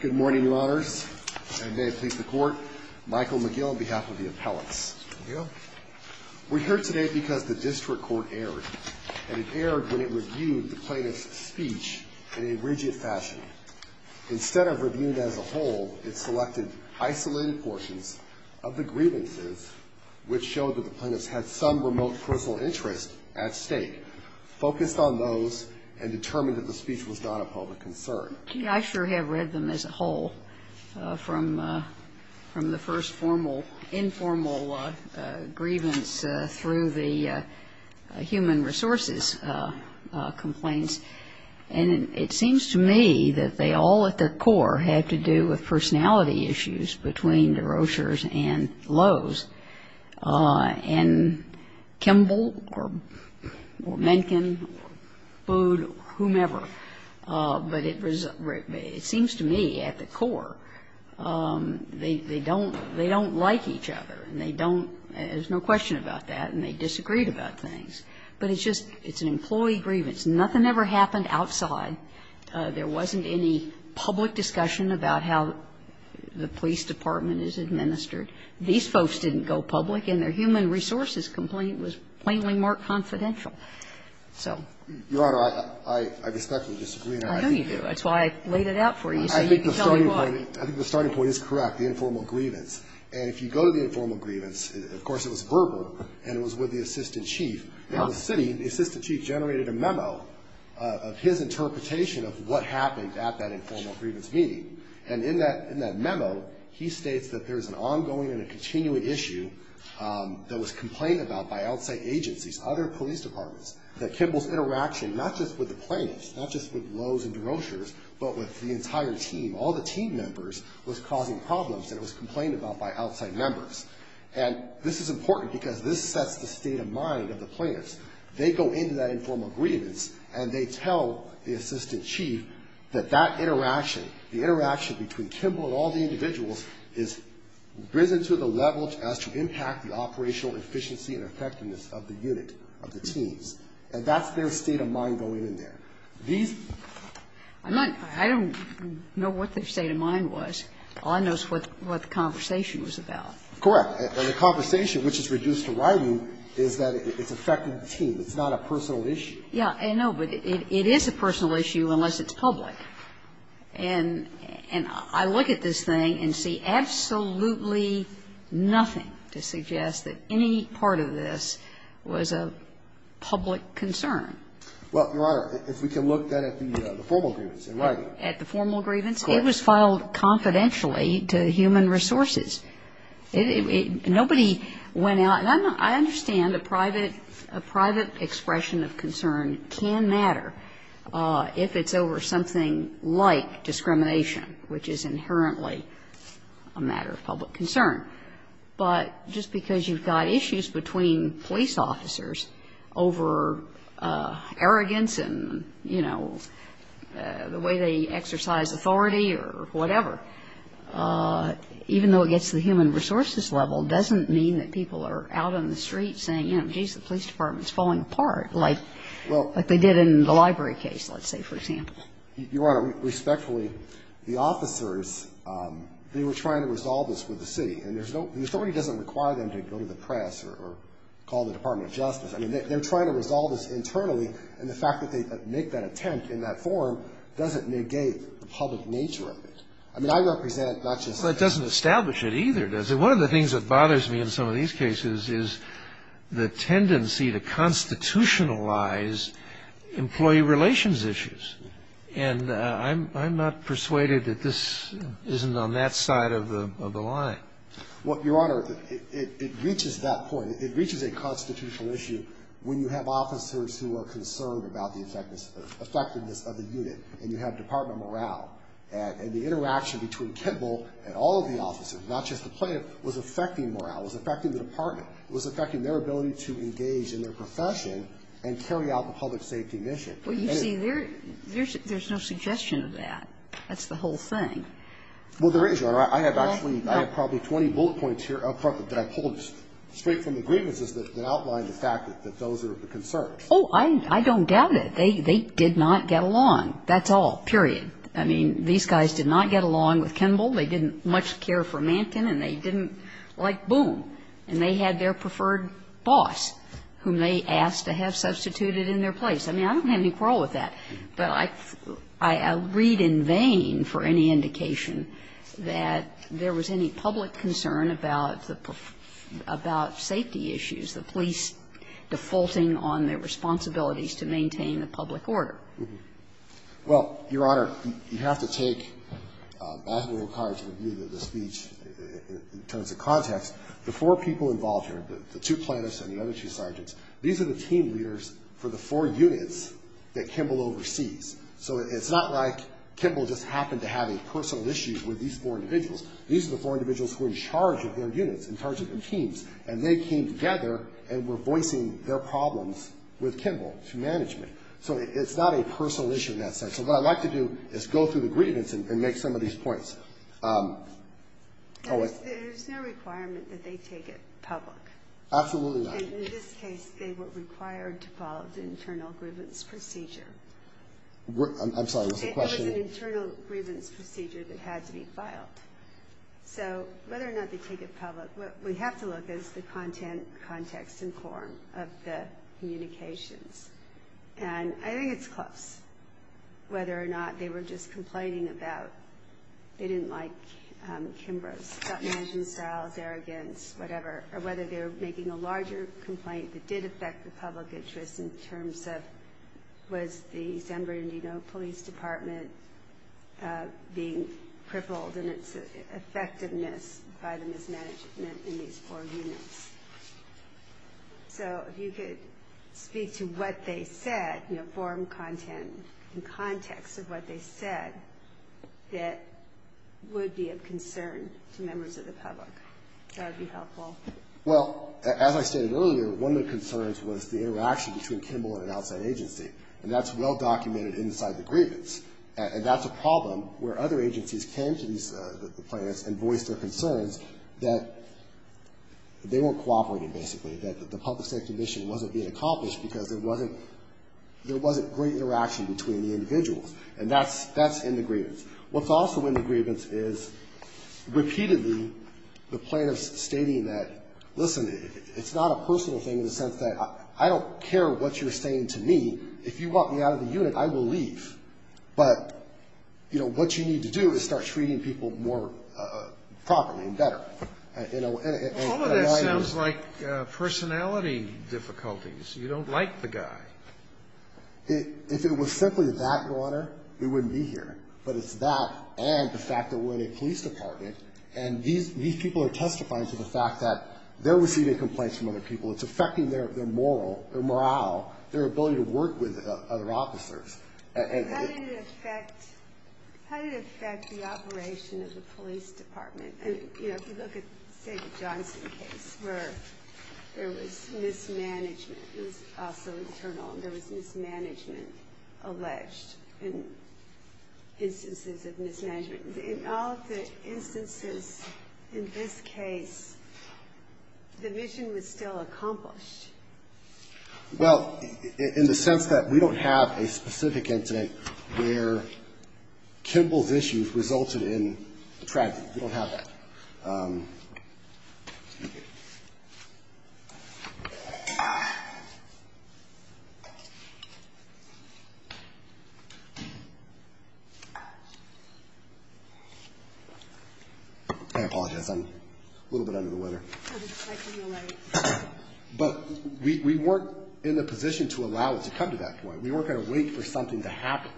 Good morning, your honors, and may it please the court. Michael McGill on behalf of the appellants. We're here today because the district court erred. And it erred when it reviewed the plaintiff's speech in a rigid fashion. Instead of reviewing it as a whole, it selected isolated portions of the grievances, which showed that the plaintiffs had some remote personal interest at stake, focused on those, and determined that the speech was not a public concern. I sure have read them as a whole, from the first informal grievance through the human resources complaints. And it seems to me that they all, at their core, had to do with personality issues between Derochers and Lowe's, and Kimball, or Mencken, Bood, whomever. But it seems to me, at the core, they don't like each other. And they don't – there's no question about that. And they disagreed about things. But it's just – it's an employee grievance. Nothing ever happened outside. There wasn't any public discussion about how the police department is administered. These folks didn't go public, and their human resources complaint was plainly marked confidential. So – Your Honor, I respectfully disagree. I know you do. That's why I laid it out for you, so you can tell me why. I think the starting point is correct, the informal grievance. And if you go to the informal grievance, of course, it was verbal, and it was with the assistant chief. Now, the city, the assistant chief generated a memo of his interpretation of what happened at that informal grievance meeting. And in that memo, he states that there's an ongoing and a continuing issue that was complained about by outside agencies, other police departments, that Kimball's interaction not just with the plaintiffs, not just with Lowe's and DeRocher's, but with the entire team, all the team members, was causing problems. And it was complained about by outside members. And this is important because this sets the state of mind of the plaintiffs. They go into that informal grievance, and they tell the assistant chief that that interaction, the interaction between Kimball and all the individuals, is risen to the level as to impact the operational efficiency and effectiveness of the unit, of the teams. And that's their state of mind going in there. These ---- I'm not ñ I don't know what their state of mind was. All I know is what the conversation was about. Correct. And the conversation, which is reduced to writing, is that it's affecting the team. It's not a personal issue. Yeah. No, but it is a personal issue unless it's public. And I look at this thing and see absolutely nothing to suggest that any part of this was a public concern. Well, Your Honor, if we can look then at the formal grievance. At the formal grievance? It was filed confidentially to human resources. Nobody went out ñ and I understand a private expression of concern can matter if it's over something like discrimination, which is inherently a matter of public concern. But just because you've got issues between police officers over arrogance and, you know, the way they exercise authority or whatever, even though it gets to the human resources level, doesn't mean that people are out on the street saying, you know, geez, the police department's falling apart, like they did in the library case, let's say, for example. Your Honor, respectfully, the officers, they were trying to resolve this with the city. And there's no ñ the authority doesn't require them to go to the press or call the Department of Justice. I mean, they're trying to resolve this internally, and the fact that they make that attempt in that forum doesn't negate the public nature of it. I mean, I represent not just the ñ Well, it doesn't establish it either, does it? One of the things that bothers me in some of these cases is the tendency to constitutionalize employee relations issues. And I'm not persuaded that this isn't on that side of the line. Well, Your Honor, it reaches that point. It reaches a constitutional issue when you have officers who are concerned about the effectiveness of the unit, and you have Department of Morale. And the interaction between Kimball and all of the officers, not just the plaintiff, was affecting morale, was affecting the department, was affecting their ability to engage in their profession and carry out the public safety mission. Well, you see, there's ñ there's no suggestion of that. That's the whole thing. Well, there is, Your Honor. I have actually ñ I have probably 20 bullet points here up front that I pulled straight from the grievances that outline the fact that those are the concerns. Oh, I don't doubt it. They did not get along, that's all, period. I mean, these guys did not get along with Kimball. They didn't much care for Manten, and they didn't like Boone. And they had their preferred boss whom they asked to have substituted in their place. I mean, I don't have any quarrel with that, but I read in vain for any indication that there was any public concern about the ñ about safety issues, the police defaulting on their responsibilities to maintain the public order. Well, Your Honor, you have to take basketball cards and view the speech in terms of context. The four people involved here, the two plaintiffs and the other two sergeants, these are the team leaders for the four units that Kimball oversees. So it's not like Kimball just happened to have a personal issue with these four individuals. These are the four individuals who are in charge of their units, in charge of their teams, and they came together and were voicing their problems with Kimball through management. So it's not a personal issue in that sense. So what I'd like to do is go through the grievance and make some of these points. There's no requirement that they take it public. Absolutely not. In this case, they were required to follow the internal grievance procedure. I'm sorry, what's the question? It was an internal grievance procedure that had to be filed. So whether or not they take it public, what we have to look is the content, context, and form of the communications. And I think it's close, whether or not they were just complaining about they didn't like Kimbrough's thought management styles, arrogance, whatever. Or whether they were making a larger complaint that did affect the public interest in terms of was the San Bernardino Police Department being crippled in its effectiveness by the mismanagement in these four units. So if you could speak to what they said, form, content, and context of what they said that would be of concern to members of the public. That would be helpful. Well, as I stated earlier, one of the concerns was the interaction between Kimbrough and an outside agency. And that's well documented inside the grievance. And that's a problem where other agencies came to these plaintiffs and voiced their concerns that they weren't cooperating, basically. That the public safety mission wasn't being accomplished because there wasn't great interaction between the individuals. And that's in the grievance. What's also in the grievance is, repeatedly, the plaintiffs stating that, listen, it's not a personal thing in the sense that I don't care what you're saying to me, if you walk me out of the unit, I will leave. But what you need to do is start treating people more properly and better. Although that sounds like personality difficulties. You don't like the guy. If it was simply that, Your Honor, we wouldn't be here. But it's that and the fact that we're in a police department. And these people are testifying to the fact that they're receiving complaints from other people. It's affecting their morale, their ability to work with other officers. And- How did it affect the operation of the police department? And if you look at, say, the Johnson case, where there was mismanagement. It was also internal. There was mismanagement alleged in instances of mismanagement. In all of the instances in this case, the mission was still accomplished. Well, in the sense that we don't have a specific incident where Kimball's issues resulted in a tragedy. We don't have that. I apologize. I'm a little bit under the weather. But we weren't in the position to allow it to come to that point. We weren't going to wait for something to happen.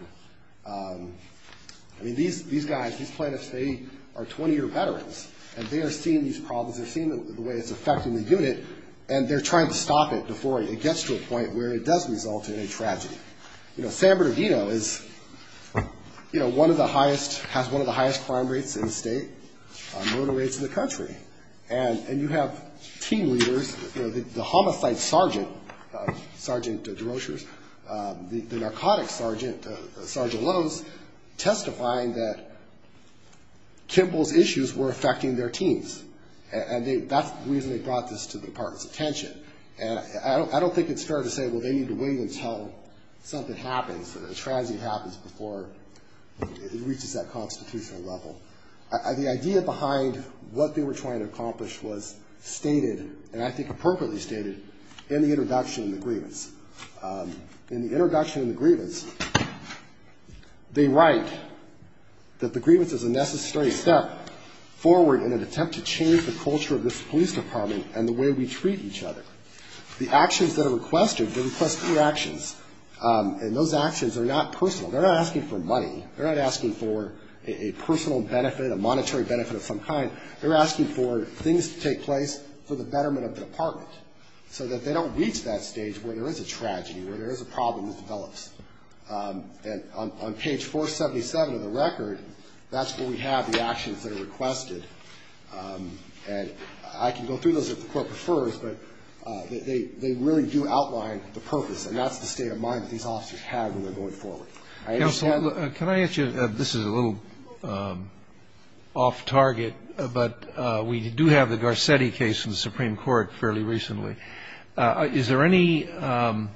I mean, these guys, these plaintiffs, they are 20-year veterans. And they are seeing these problems. They're seeing the way it's affecting the unit. And they're trying to stop it before it gets to a point where it does result in a tragedy. You know, San Bernardino is, you know, one of the highest, has one of the highest crime rates in the state, murder rates in the country. And you have team leaders, you know, the homicide sergeant, Sergeant DeRoshers, the narcotics sergeant, Sergeant Lowes, testifying that Kimball's issues were affecting their teams. And that's the reason they brought this to the department's attention. And I don't think it's fair to say, well, they need to wait until something happens, a tragedy happens before it reaches that constitutional level. The idea behind what they were trying to accomplish was stated, and I think appropriately stated, in the introduction of the grievance. In the introduction of the grievance, they write that the grievance is a necessary step forward in an attempt to change the culture of this police department and the way we treat each other. The actions that are requested, they request new actions. And those actions are not personal. They're not asking for money. They're not asking for a personal benefit, a monetary benefit of some kind. They're asking for things to take place for the betterment of the department. So that they don't reach that stage where there is a tragedy, where there is a problem that develops. And on page 477 of the record, that's where we have the actions that are requested. And I can go through those if the court prefers, but they really do outline the purpose, and that's the state of mind that these officers have when they're going forward. I understand- Can I ask you, this is a little off target, but we do have the Garcetti case in the Supreme Court fairly recently. Is there any Garcetti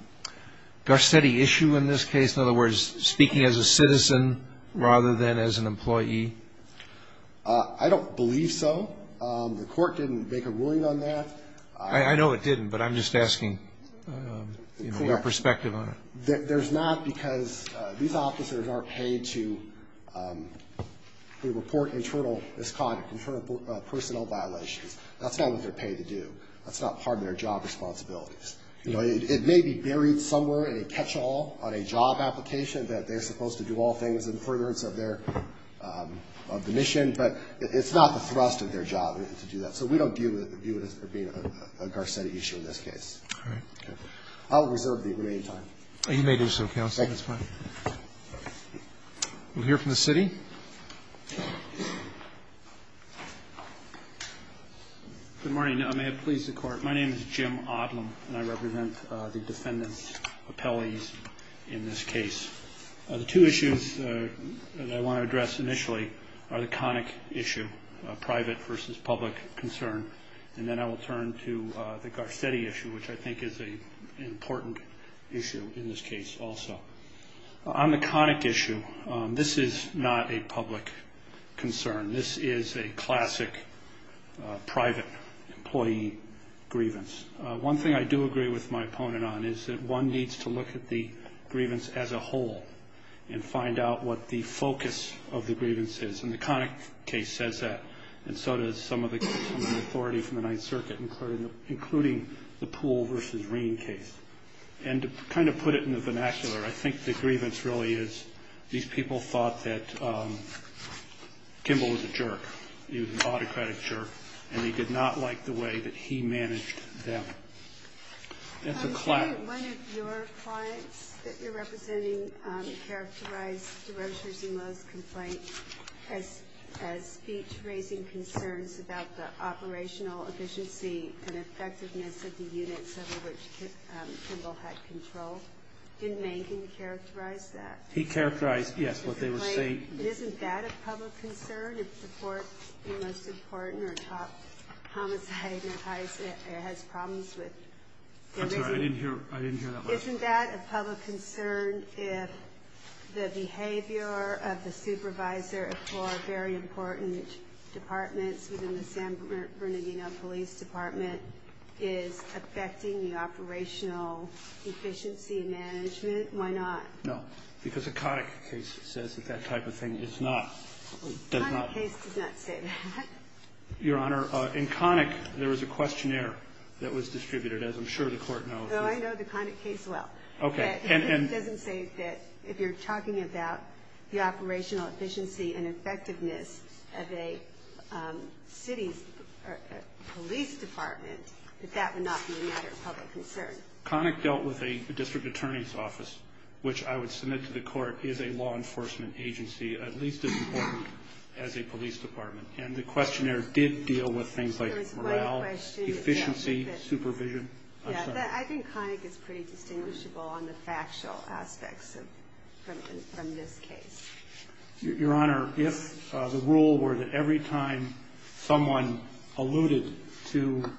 issue in this case? In other words, speaking as a citizen rather than as an employee? I don't believe so. The court didn't make a ruling on that. I know it didn't, but I'm just asking your perspective on it. There's not because these officers aren't paid to report internal misconduct, internal personnel violations. That's not what they're paid to do. That's not part of their job responsibilities. It may be buried somewhere in a catch-all on a job application that they're supposed to do all things in furtherance of their, of the mission, but it's not the thrust of their job to do that. So we don't view it as being a Garcetti issue in this case. All right. I'll reserve the remaining time. You may do so, counsel. That's fine. We'll hear from the city. Good morning. May it please the court. My name is Jim Odlem, and I represent the defendant's appellees in this case. The two issues that I want to address initially are the conic issue, private versus public concern, and then I will turn to the Garcetti issue, which I think is an important issue in this case also. On the conic issue, this is not a public concern. This is a classic private employee grievance. One thing I do agree with my opponent on is that one needs to look at the grievance as a whole and find out what the focus of the grievance is. And the conic case says that, and so does some of the authority from the Ninth Circuit, including the Poole versus Ream case. And to kind of put it in the vernacular, I think the grievance really is, these people thought that Kimball was a jerk. He was an autocratic jerk, and he did not like the way that he managed them. That's a classic. One of your clients that you're representing characterized DeRosier-Zemo's complaint as speech raising concerns about the operational efficiency and effectiveness of the units over which Kimball had control. Didn't Mankin characterize that? He characterized, yes, what they were saying. Isn't that a public concern if the court's most important or top homicide has problems with? I'm sorry, I didn't hear that last part. Isn't that a public concern if the behavior of the supervisor for very important departments within the San Bernardino Police Department is affecting the operational efficiency management? Why not? No, because the Connick case says that that type of thing is not, does not. The Connick case does not say that. Your Honor, in Connick, there was a questionnaire that was distributed, as I'm sure the court knows. Though I know the Connick case well. Okay. And it doesn't say that if you're talking about the operational efficiency and effectiveness of a city's police department, that that would not be a matter of public concern. Connick dealt with a district attorney's office, which I would submit to the court is a law enforcement agency, at least as important as a police department. And the questionnaire did deal with things like morale, efficiency, supervision. I'm sorry. I think Connick is pretty distinguishable on the factual aspects from this case. Your Honor, if the rule were that every time someone alluded to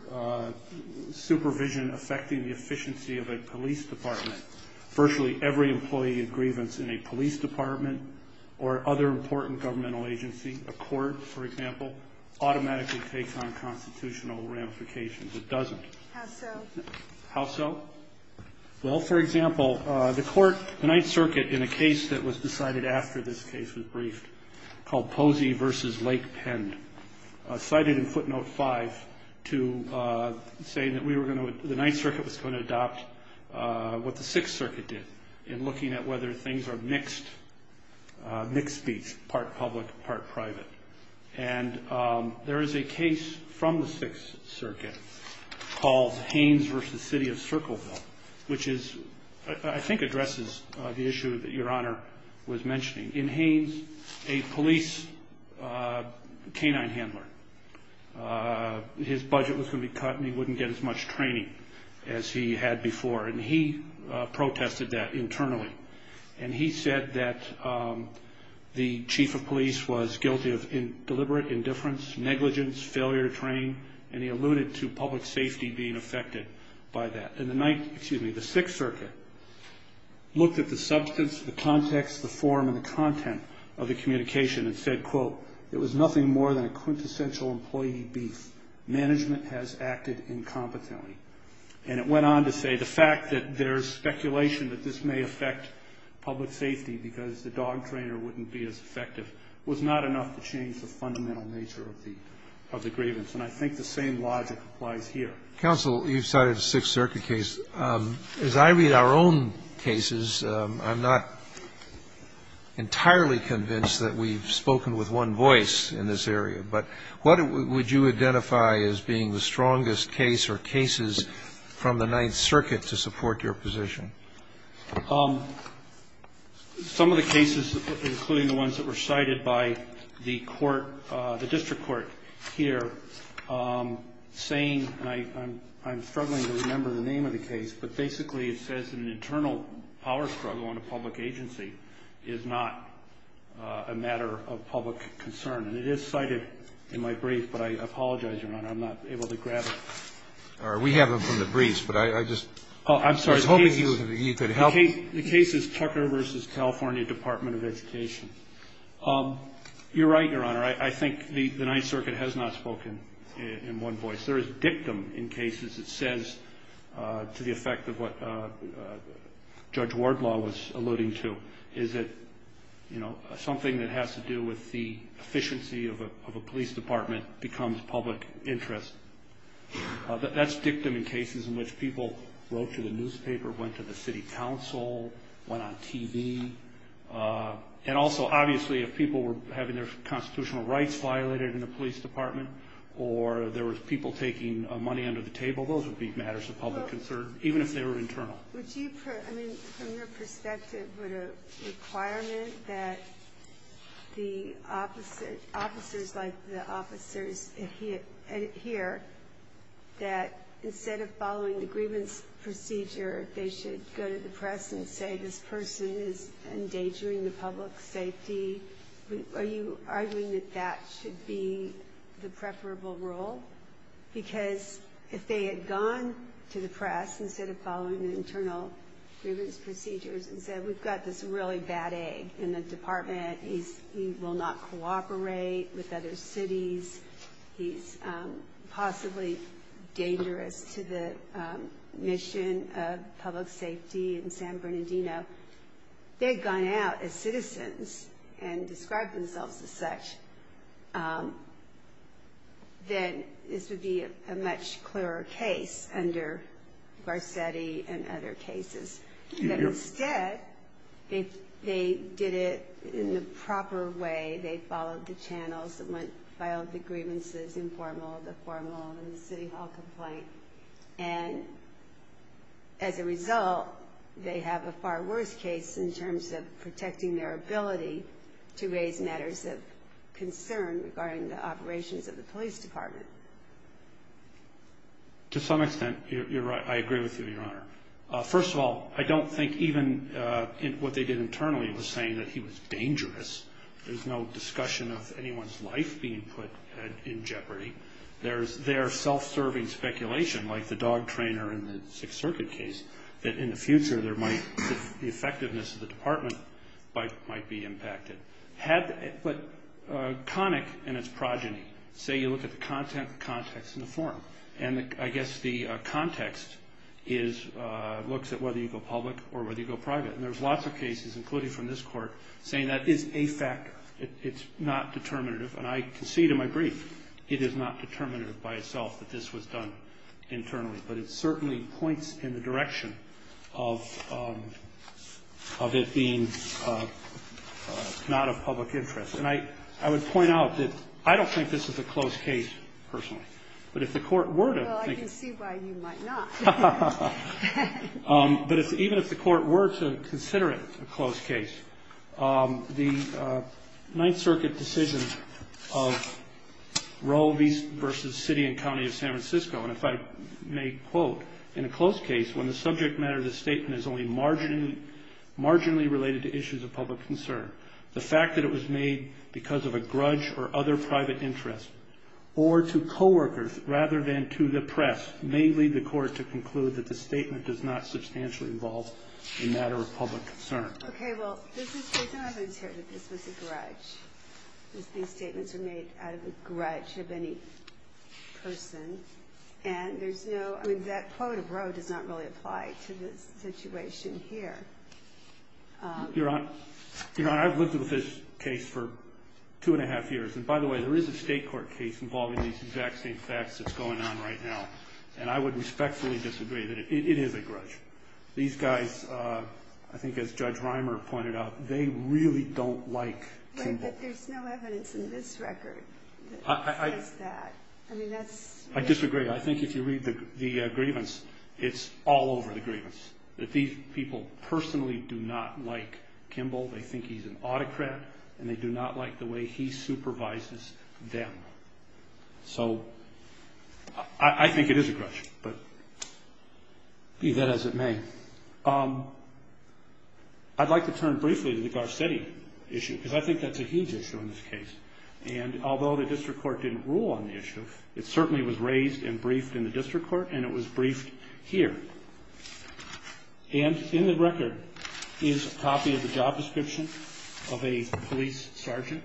supervision affecting the efficiency of a police department, virtually every employee in grievance in a police department or other important governmental agency, a court, for example, automatically takes on constitutional ramifications. It doesn't. How so? How so? Well, for example, the court, the Ninth Circuit, in a case that was decided after this case was briefed called Posey v. Lake Pend, cited in footnote 5 to say that we were going to, the Ninth Circuit was going to adopt what the Sixth Circuit did in looking at whether things are mixed, mixed speech, part public, part private. And there is a case from the Sixth Circuit called Haynes v. City of Circleville, which is, I think addresses the issue that Your Honor was mentioning. In Haynes, a police canine handler, his budget was going to be cut and he wouldn't get as much training as he had before. And he protested that internally. And he said that the chief of police was guilty of deliberate indifference, negligence, failure to train, and he alluded to public safety being affected by that. And the Ninth, excuse me, the Sixth Circuit looked at the substance, the context, the form, and the content of the communication and said, quote, it was nothing more than a quintessential employee beef. Management has acted incompetently. And it went on to say the fact that there's speculation that this may affect public safety because the dog trainer wouldn't be as effective was not enough to change the fundamental nature of the grievance. And I think the same logic applies here. Kennedy, counsel, you've cited the Sixth Circuit case. As I read our own cases, I'm not entirely convinced that we've spoken with one voice in this area, but what would you identify as being the strongest case or cases from the Ninth Circuit to support your position? Some of the cases, including the ones that were cited by the court, the district court here saying, and I'm struggling to remember the name of the case, but basically it says an internal power struggle on a public agency is not a matter of public concern. And it is cited in my brief, but I apologize, Your Honor, I'm not able to grab it. All right. We have it from the briefs, but I just was hoping you could help. The case is Tucker v. California Department of Education. You're right, Your Honor. I think the Ninth Circuit has not spoken in one voice. There is dictum in cases. It says, to the effect of what Judge Wardlaw was alluding to, is that something that has to do with the efficiency of a police department becomes public interest. That's dictum in cases in which people wrote to the newspaper, went to the city council, went on TV. And also, obviously, if people were having their constitutional rights violated in the police department, or there was people taking money under the table, those would be matters of public concern, even if they were internal. Would you, I mean, from your perspective, would a requirement that the officers like the officers here, that instead of following the grievance procedure, they should go to the press and say, this person is endangering the public safety? Are you arguing that that should be the preferable role? Because if they had gone to the press, instead of following the internal grievance procedures, and said, we've got this really bad egg in the department. He will not cooperate with other cities. He's possibly dangerous to the mission of public safety in San Bernardino. They've gone out as citizens and described themselves as such. Then this would be a much clearer case under Garcetti and other cases. But instead, if they did it in the proper way, they followed the channels that went, filed the grievances in formal, the formal, and the city hall complaint. And as a result, they have a far worse case in terms of protecting their ability to raise matters of concern regarding the operations of the police department. To some extent, you're right. I agree with you, Your Honor. First of all, I don't think even what they did internally was saying that he was dangerous. There's no discussion of anyone's life being put in jeopardy. There's their self-serving speculation, like the dog trainer in the Sixth Circuit case, that in the future, the effectiveness of the department might be impacted. But Connick and its progeny, say you look at the content, the context, and the form. And I guess the context looks at whether you go public or whether you go private. And there's lots of cases, including from this Court, saying that is a factor. It's not determinative. And I concede in my brief, it is not determinative by itself that this was done internally. But it certainly points in the direction of it being not of public interest. And I would point out that I don't think this is a closed case, personally. But if the Court were to think it's a closed case, I think it's a closed case. Well, I can see why you might not. But even if the Court were to consider it a closed case, the Ninth Circuit decision of Roe v. City and County of San Francisco, and if I may quote, in a closed case, when the subject matter of the statement is only marginally related to issues of public concern, the fact that it was made because of a grudge or other private interest, or to co-workers rather than to the press, may lead the Court to conclude that the statement does not substantially involve a matter of public concern. Okay, well, there's no evidence here that this was a grudge, that these statements were made out of the grudge of any person. And there's no, I mean, that quote of Roe does not really apply to this situation here. Your Honor, I've lived with this case for two and a half years. And by the way, there is a state court case involving these exact same facts that's going on right now. And I would respectfully disagree that it is a grudge. These guys, I think as Judge Reimer pointed out, they really don't like Kimball. But there's no evidence in this record that says that. I mean, that's- I disagree. I think if you read the grievance, it's all over the grievance. That these people personally do not like Kimball. They think he's an autocrat, and they do not like the way he supervises them. So I think it is a grudge, but be that as it may. I'd like to turn briefly to the Garcetti issue, because I think that's a huge issue in this case. And although the district court didn't rule on the issue, it certainly was raised and briefed in the district court, and it was briefed here. And in the record is a copy of the job description of a police sergeant.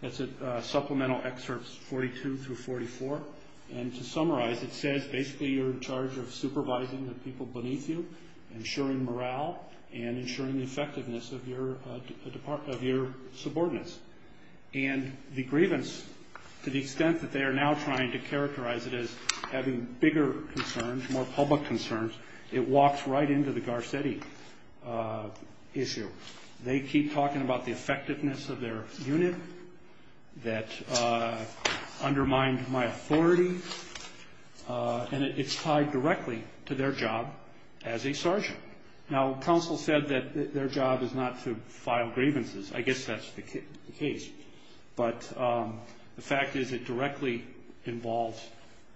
That's at supplemental excerpts 42 through 44. And to summarize, it says basically you're in charge of supervising the people beneath you, ensuring morale, and ensuring the effectiveness of your subordinates. And the grievance, to the extent that they are now trying to characterize it as having bigger concerns, more public concerns, it walks right into the Garcetti issue. They keep talking about the effectiveness of their unit that undermined my authority. And it's tied directly to their job as a sergeant. Now, counsel said that their job is not to file grievances. I guess that's the case. But the fact is, it directly involves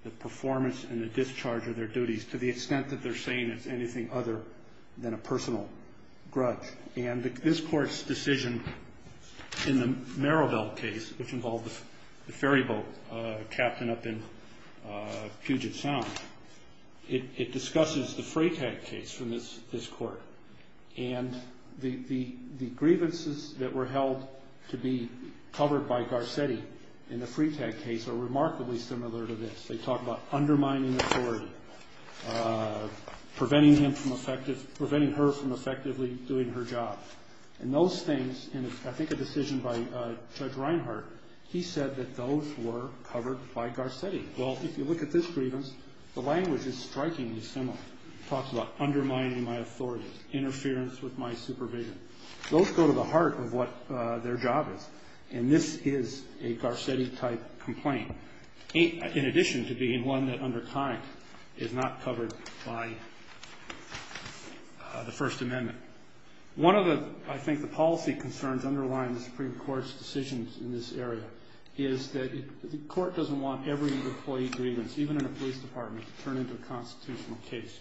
the performance and the discharge of their duties, to the extent that they're saying it's anything other than a personal grudge. And this court's decision in the Merrillville case, which involved the ferry boat captain up in Puget Sound, it discusses the Freytag case from this court. And the grievances that were held to be covered by Garcetti in the Freytag case are remarkably similar to this. They talk about undermining authority, preventing her from effectively doing her job. And those things, and I think a decision by Judge Reinhart, he said that those were covered by Garcetti. Well, if you look at this grievance, the language is strikingly similar. Talks about undermining my authority, interference with my supervision. Those go to the heart of what their job is. And this is a Garcetti-type complaint, in addition to being one that, under time, is not covered by the First Amendment. One of the, I think, the policy concerns underlying the Supreme Court's decisions in this area is that the court doesn't want every employee grievance, even in a police department, to turn into a constitutional case.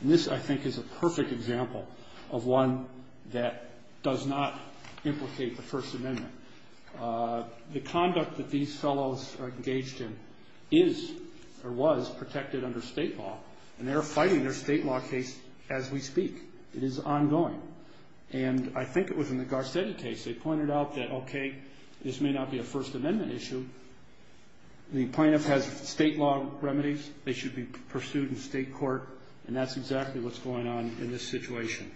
And this, I think, is a perfect example of one that does not implicate the First Amendment. The conduct that these fellows are engaged in is, or was, protected under state law. And they're fighting their state law case as we speak. It is ongoing. And I think it was in the Garcetti case. They pointed out that, okay, this may not be a First Amendment issue. The plaintiff has state law remedies. They should be pursued in state court. And that's exactly what's going on in this situation.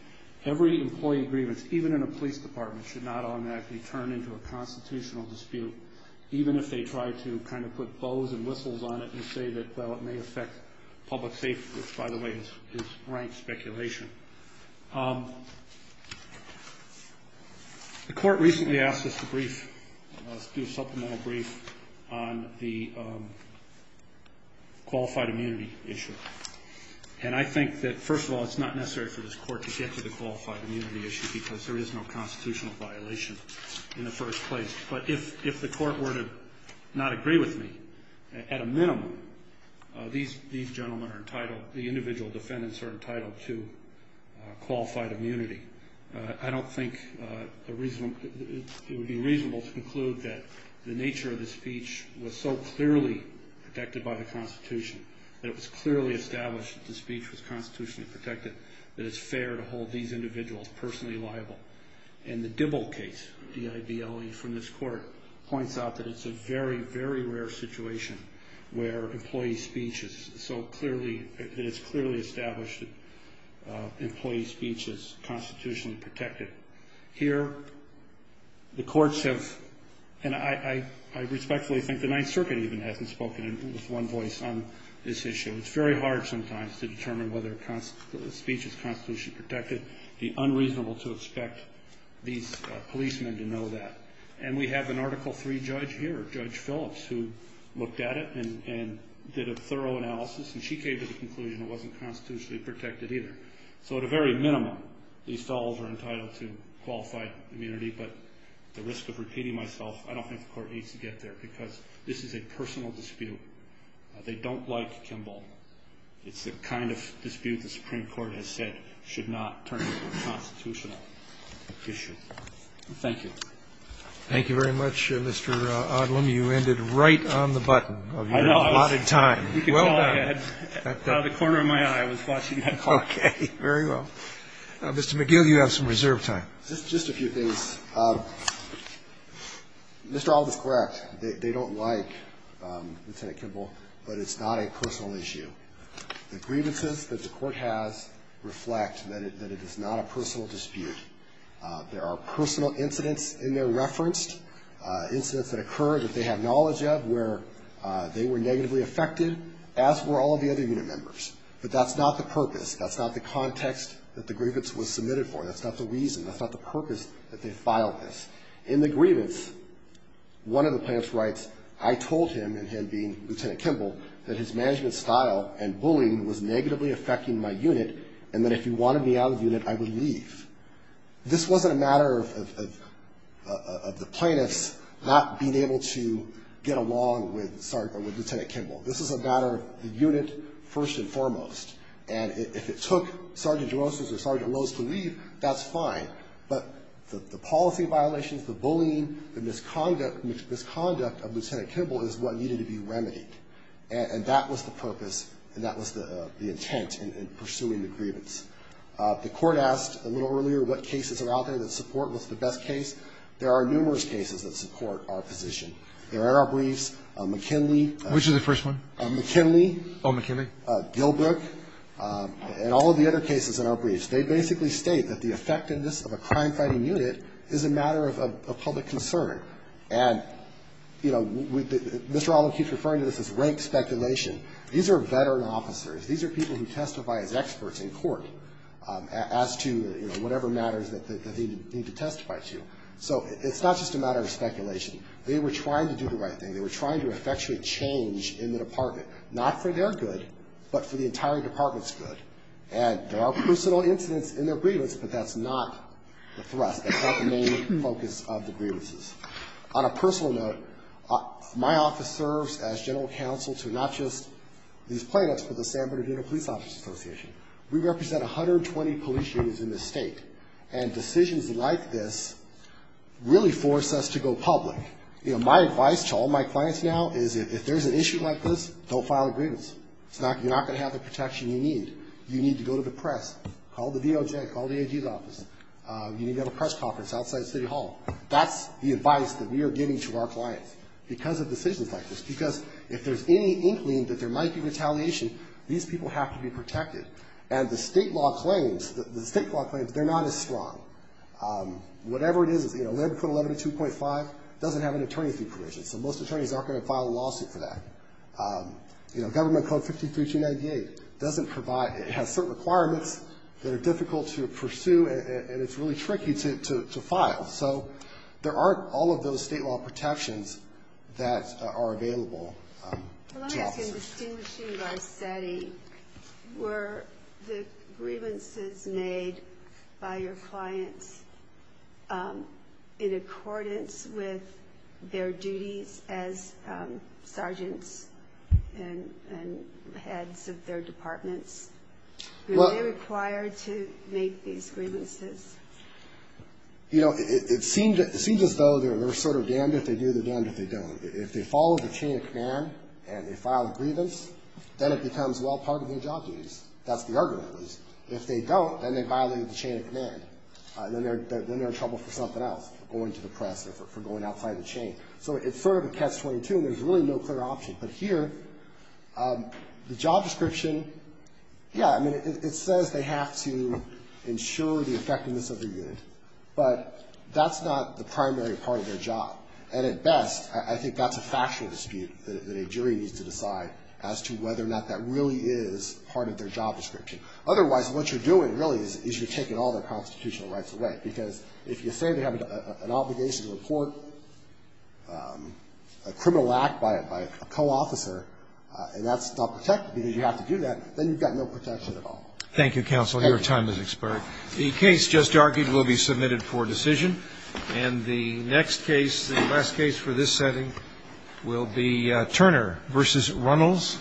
Every employee grievance, even in a police department, should not automatically turn into a constitutional dispute, even if they try to kind of put bows and whistles on it and say that, well, it may affect public safety, which, by the way, is rank speculation. The court recently asked us to do a supplemental brief on the qualified immunity issue. And I think that, first of all, it's not necessary for this court to get to the qualified immunity issue because there is no constitutional violation in the first place. But if the court were to not agree with me, at a minimum, these gentlemen are entitled, the individual defendants are entitled to qualified immunity. I don't think it would be reasonable to conclude that the nature of the speech was so clearly protected by the Constitution, that it was clearly established that the speech was constitutionally protected, that it's fair to hold these individuals personally liable. And the Dibble case, D-I-B-L-E from this court, points out that it's a very, very rare situation where employee speech is so clearly, that it's clearly established that employee speech is constitutionally protected. Here, the courts have, and I respectfully think the Ninth Circuit even hasn't spoken with one voice on this issue. It's very hard sometimes to determine whether a speech is constitutionally protected. The unreasonable to expect these policemen to know that. And we have an Article III judge here, Judge Phillips, who looked at it and did a thorough analysis. And she came to the conclusion it wasn't constitutionally protected either. So at a very minimum, these fellows are entitled to qualified immunity. But at the risk of repeating myself, I don't think the court needs to get there, because this is a personal dispute. They don't like Kimball. It's the kind of dispute the Supreme Court has said should not turn into a constitutional issue. Thank you. Thank you very much, Mr. Odlem. You ended right on the button of your allotted time. You can go ahead. The corner of my eye was watching that call. Okay, very well. Mr. McGill, you have some reserve time. Just a few things. Mr. Odlem is correct. They don't like Lieutenant Kimball, but it's not a personal issue. The grievances that the court has reflect that it is not a personal dispute. There are personal incidents in there referenced, incidents that occur that they have knowledge of where they were negatively affected, as were all of the other unit members. But that's not the purpose. That's not the context that the grievance was submitted for. That's not the reason. That's not the purpose that they filed this. In the grievance, one of the plaintiffs writes, I told him, and him being Lieutenant Kimball, that his management style and bullying was negatively affecting my unit, and that if he wanted me out of the unit, I would leave. This wasn't a matter of the plaintiffs not being able to get along with Lieutenant Kimball. This is a matter of the unit, first and foremost. And if it took Sergeant Rosas or Sergeant Rose to leave, that's fine. But the policy violations, the bullying, the misconduct of Lieutenant Kimball is what needed to be remedied. And that was the purpose, and that was the intent in pursuing the grievance. The court asked a little earlier what cases are out there that support what's the best case. There are numerous cases that support our position. There are briefs, McKinley. Which is the first one? McKinley. Oh, McKinley. Gilbrook, and all of the other cases in our briefs. They basically state that the effectiveness of a crime-fighting unit is a matter of public concern. And Mr. Allen keeps referring to this as rank speculation. These are veteran officers. These are people who testify as experts in court as to whatever matters that they need to testify to. So it's not just a matter of speculation. They were trying to do the right thing. They were trying to effectuate change in the department. Not for their good, but for the entire department's good. And there are personal incidents in their grievance, but that's not the thrust. That's not the main focus of the grievances. On a personal note, my office serves as general counsel to not just these plaintiffs, but the San Bernardino Police Office Association. We represent 120 police units in this state. And decisions like this really force us to go public. You know, my advice to all my clients now is if there's an issue like this, don't file a grievance. You're not going to have the protection you need. You need to go to the press. Call the DOJ. Call the AD's office. You need to have a press conference outside City Hall. That's the advice that we are giving to our clients because of decisions like this. Because if there's any inkling that there might be retaliation, these people have to be protected. And the state law claims, the state law claims, they're not as strong. Whatever it is, you know, 11.11 to 2.5 doesn't have an attorney fee provision. So most attorneys aren't going to file a lawsuit for that. You know, government code 53298 doesn't provide, it has certain requirements that are difficult to pursue and it's really tricky to file. So there aren't all of those state law protections that are available to officers. Well, let me ask you, distinguishing Varsetti, were the grievances made by your clients in accordance with their duties as sergeants and heads of their departments, were they required to make these grievances? You know, it seems as though they're sort of damned if they do, they're damned if they don't. If they follow the chain of command and they file a grievance, then it becomes well part of their job duties. That's the argument, at least. If they don't, then they violate the chain of command. Then they're in trouble for something else, going to the press or for going outside the chain. So it's sort of a catch-22 and there's really no clear option. But here, the job description, yeah, I mean, it says they have to ensure the effectiveness of their unit. But that's not the primary part of their job. And at best, I think that's a factual dispute that a jury needs to decide as to whether or not that really is part of their job description. Otherwise, what you're doing really is you're taking all their constitutional rights away. Because if you say they have an obligation to report a criminal act by a co-officer and that's not protected because you have to do that, then you've got no protection at all. Thank you, counsel. Your time has expired. The case just argued will be submitted for decision. And the next case, the last case for this setting will be Turner v. Runnels.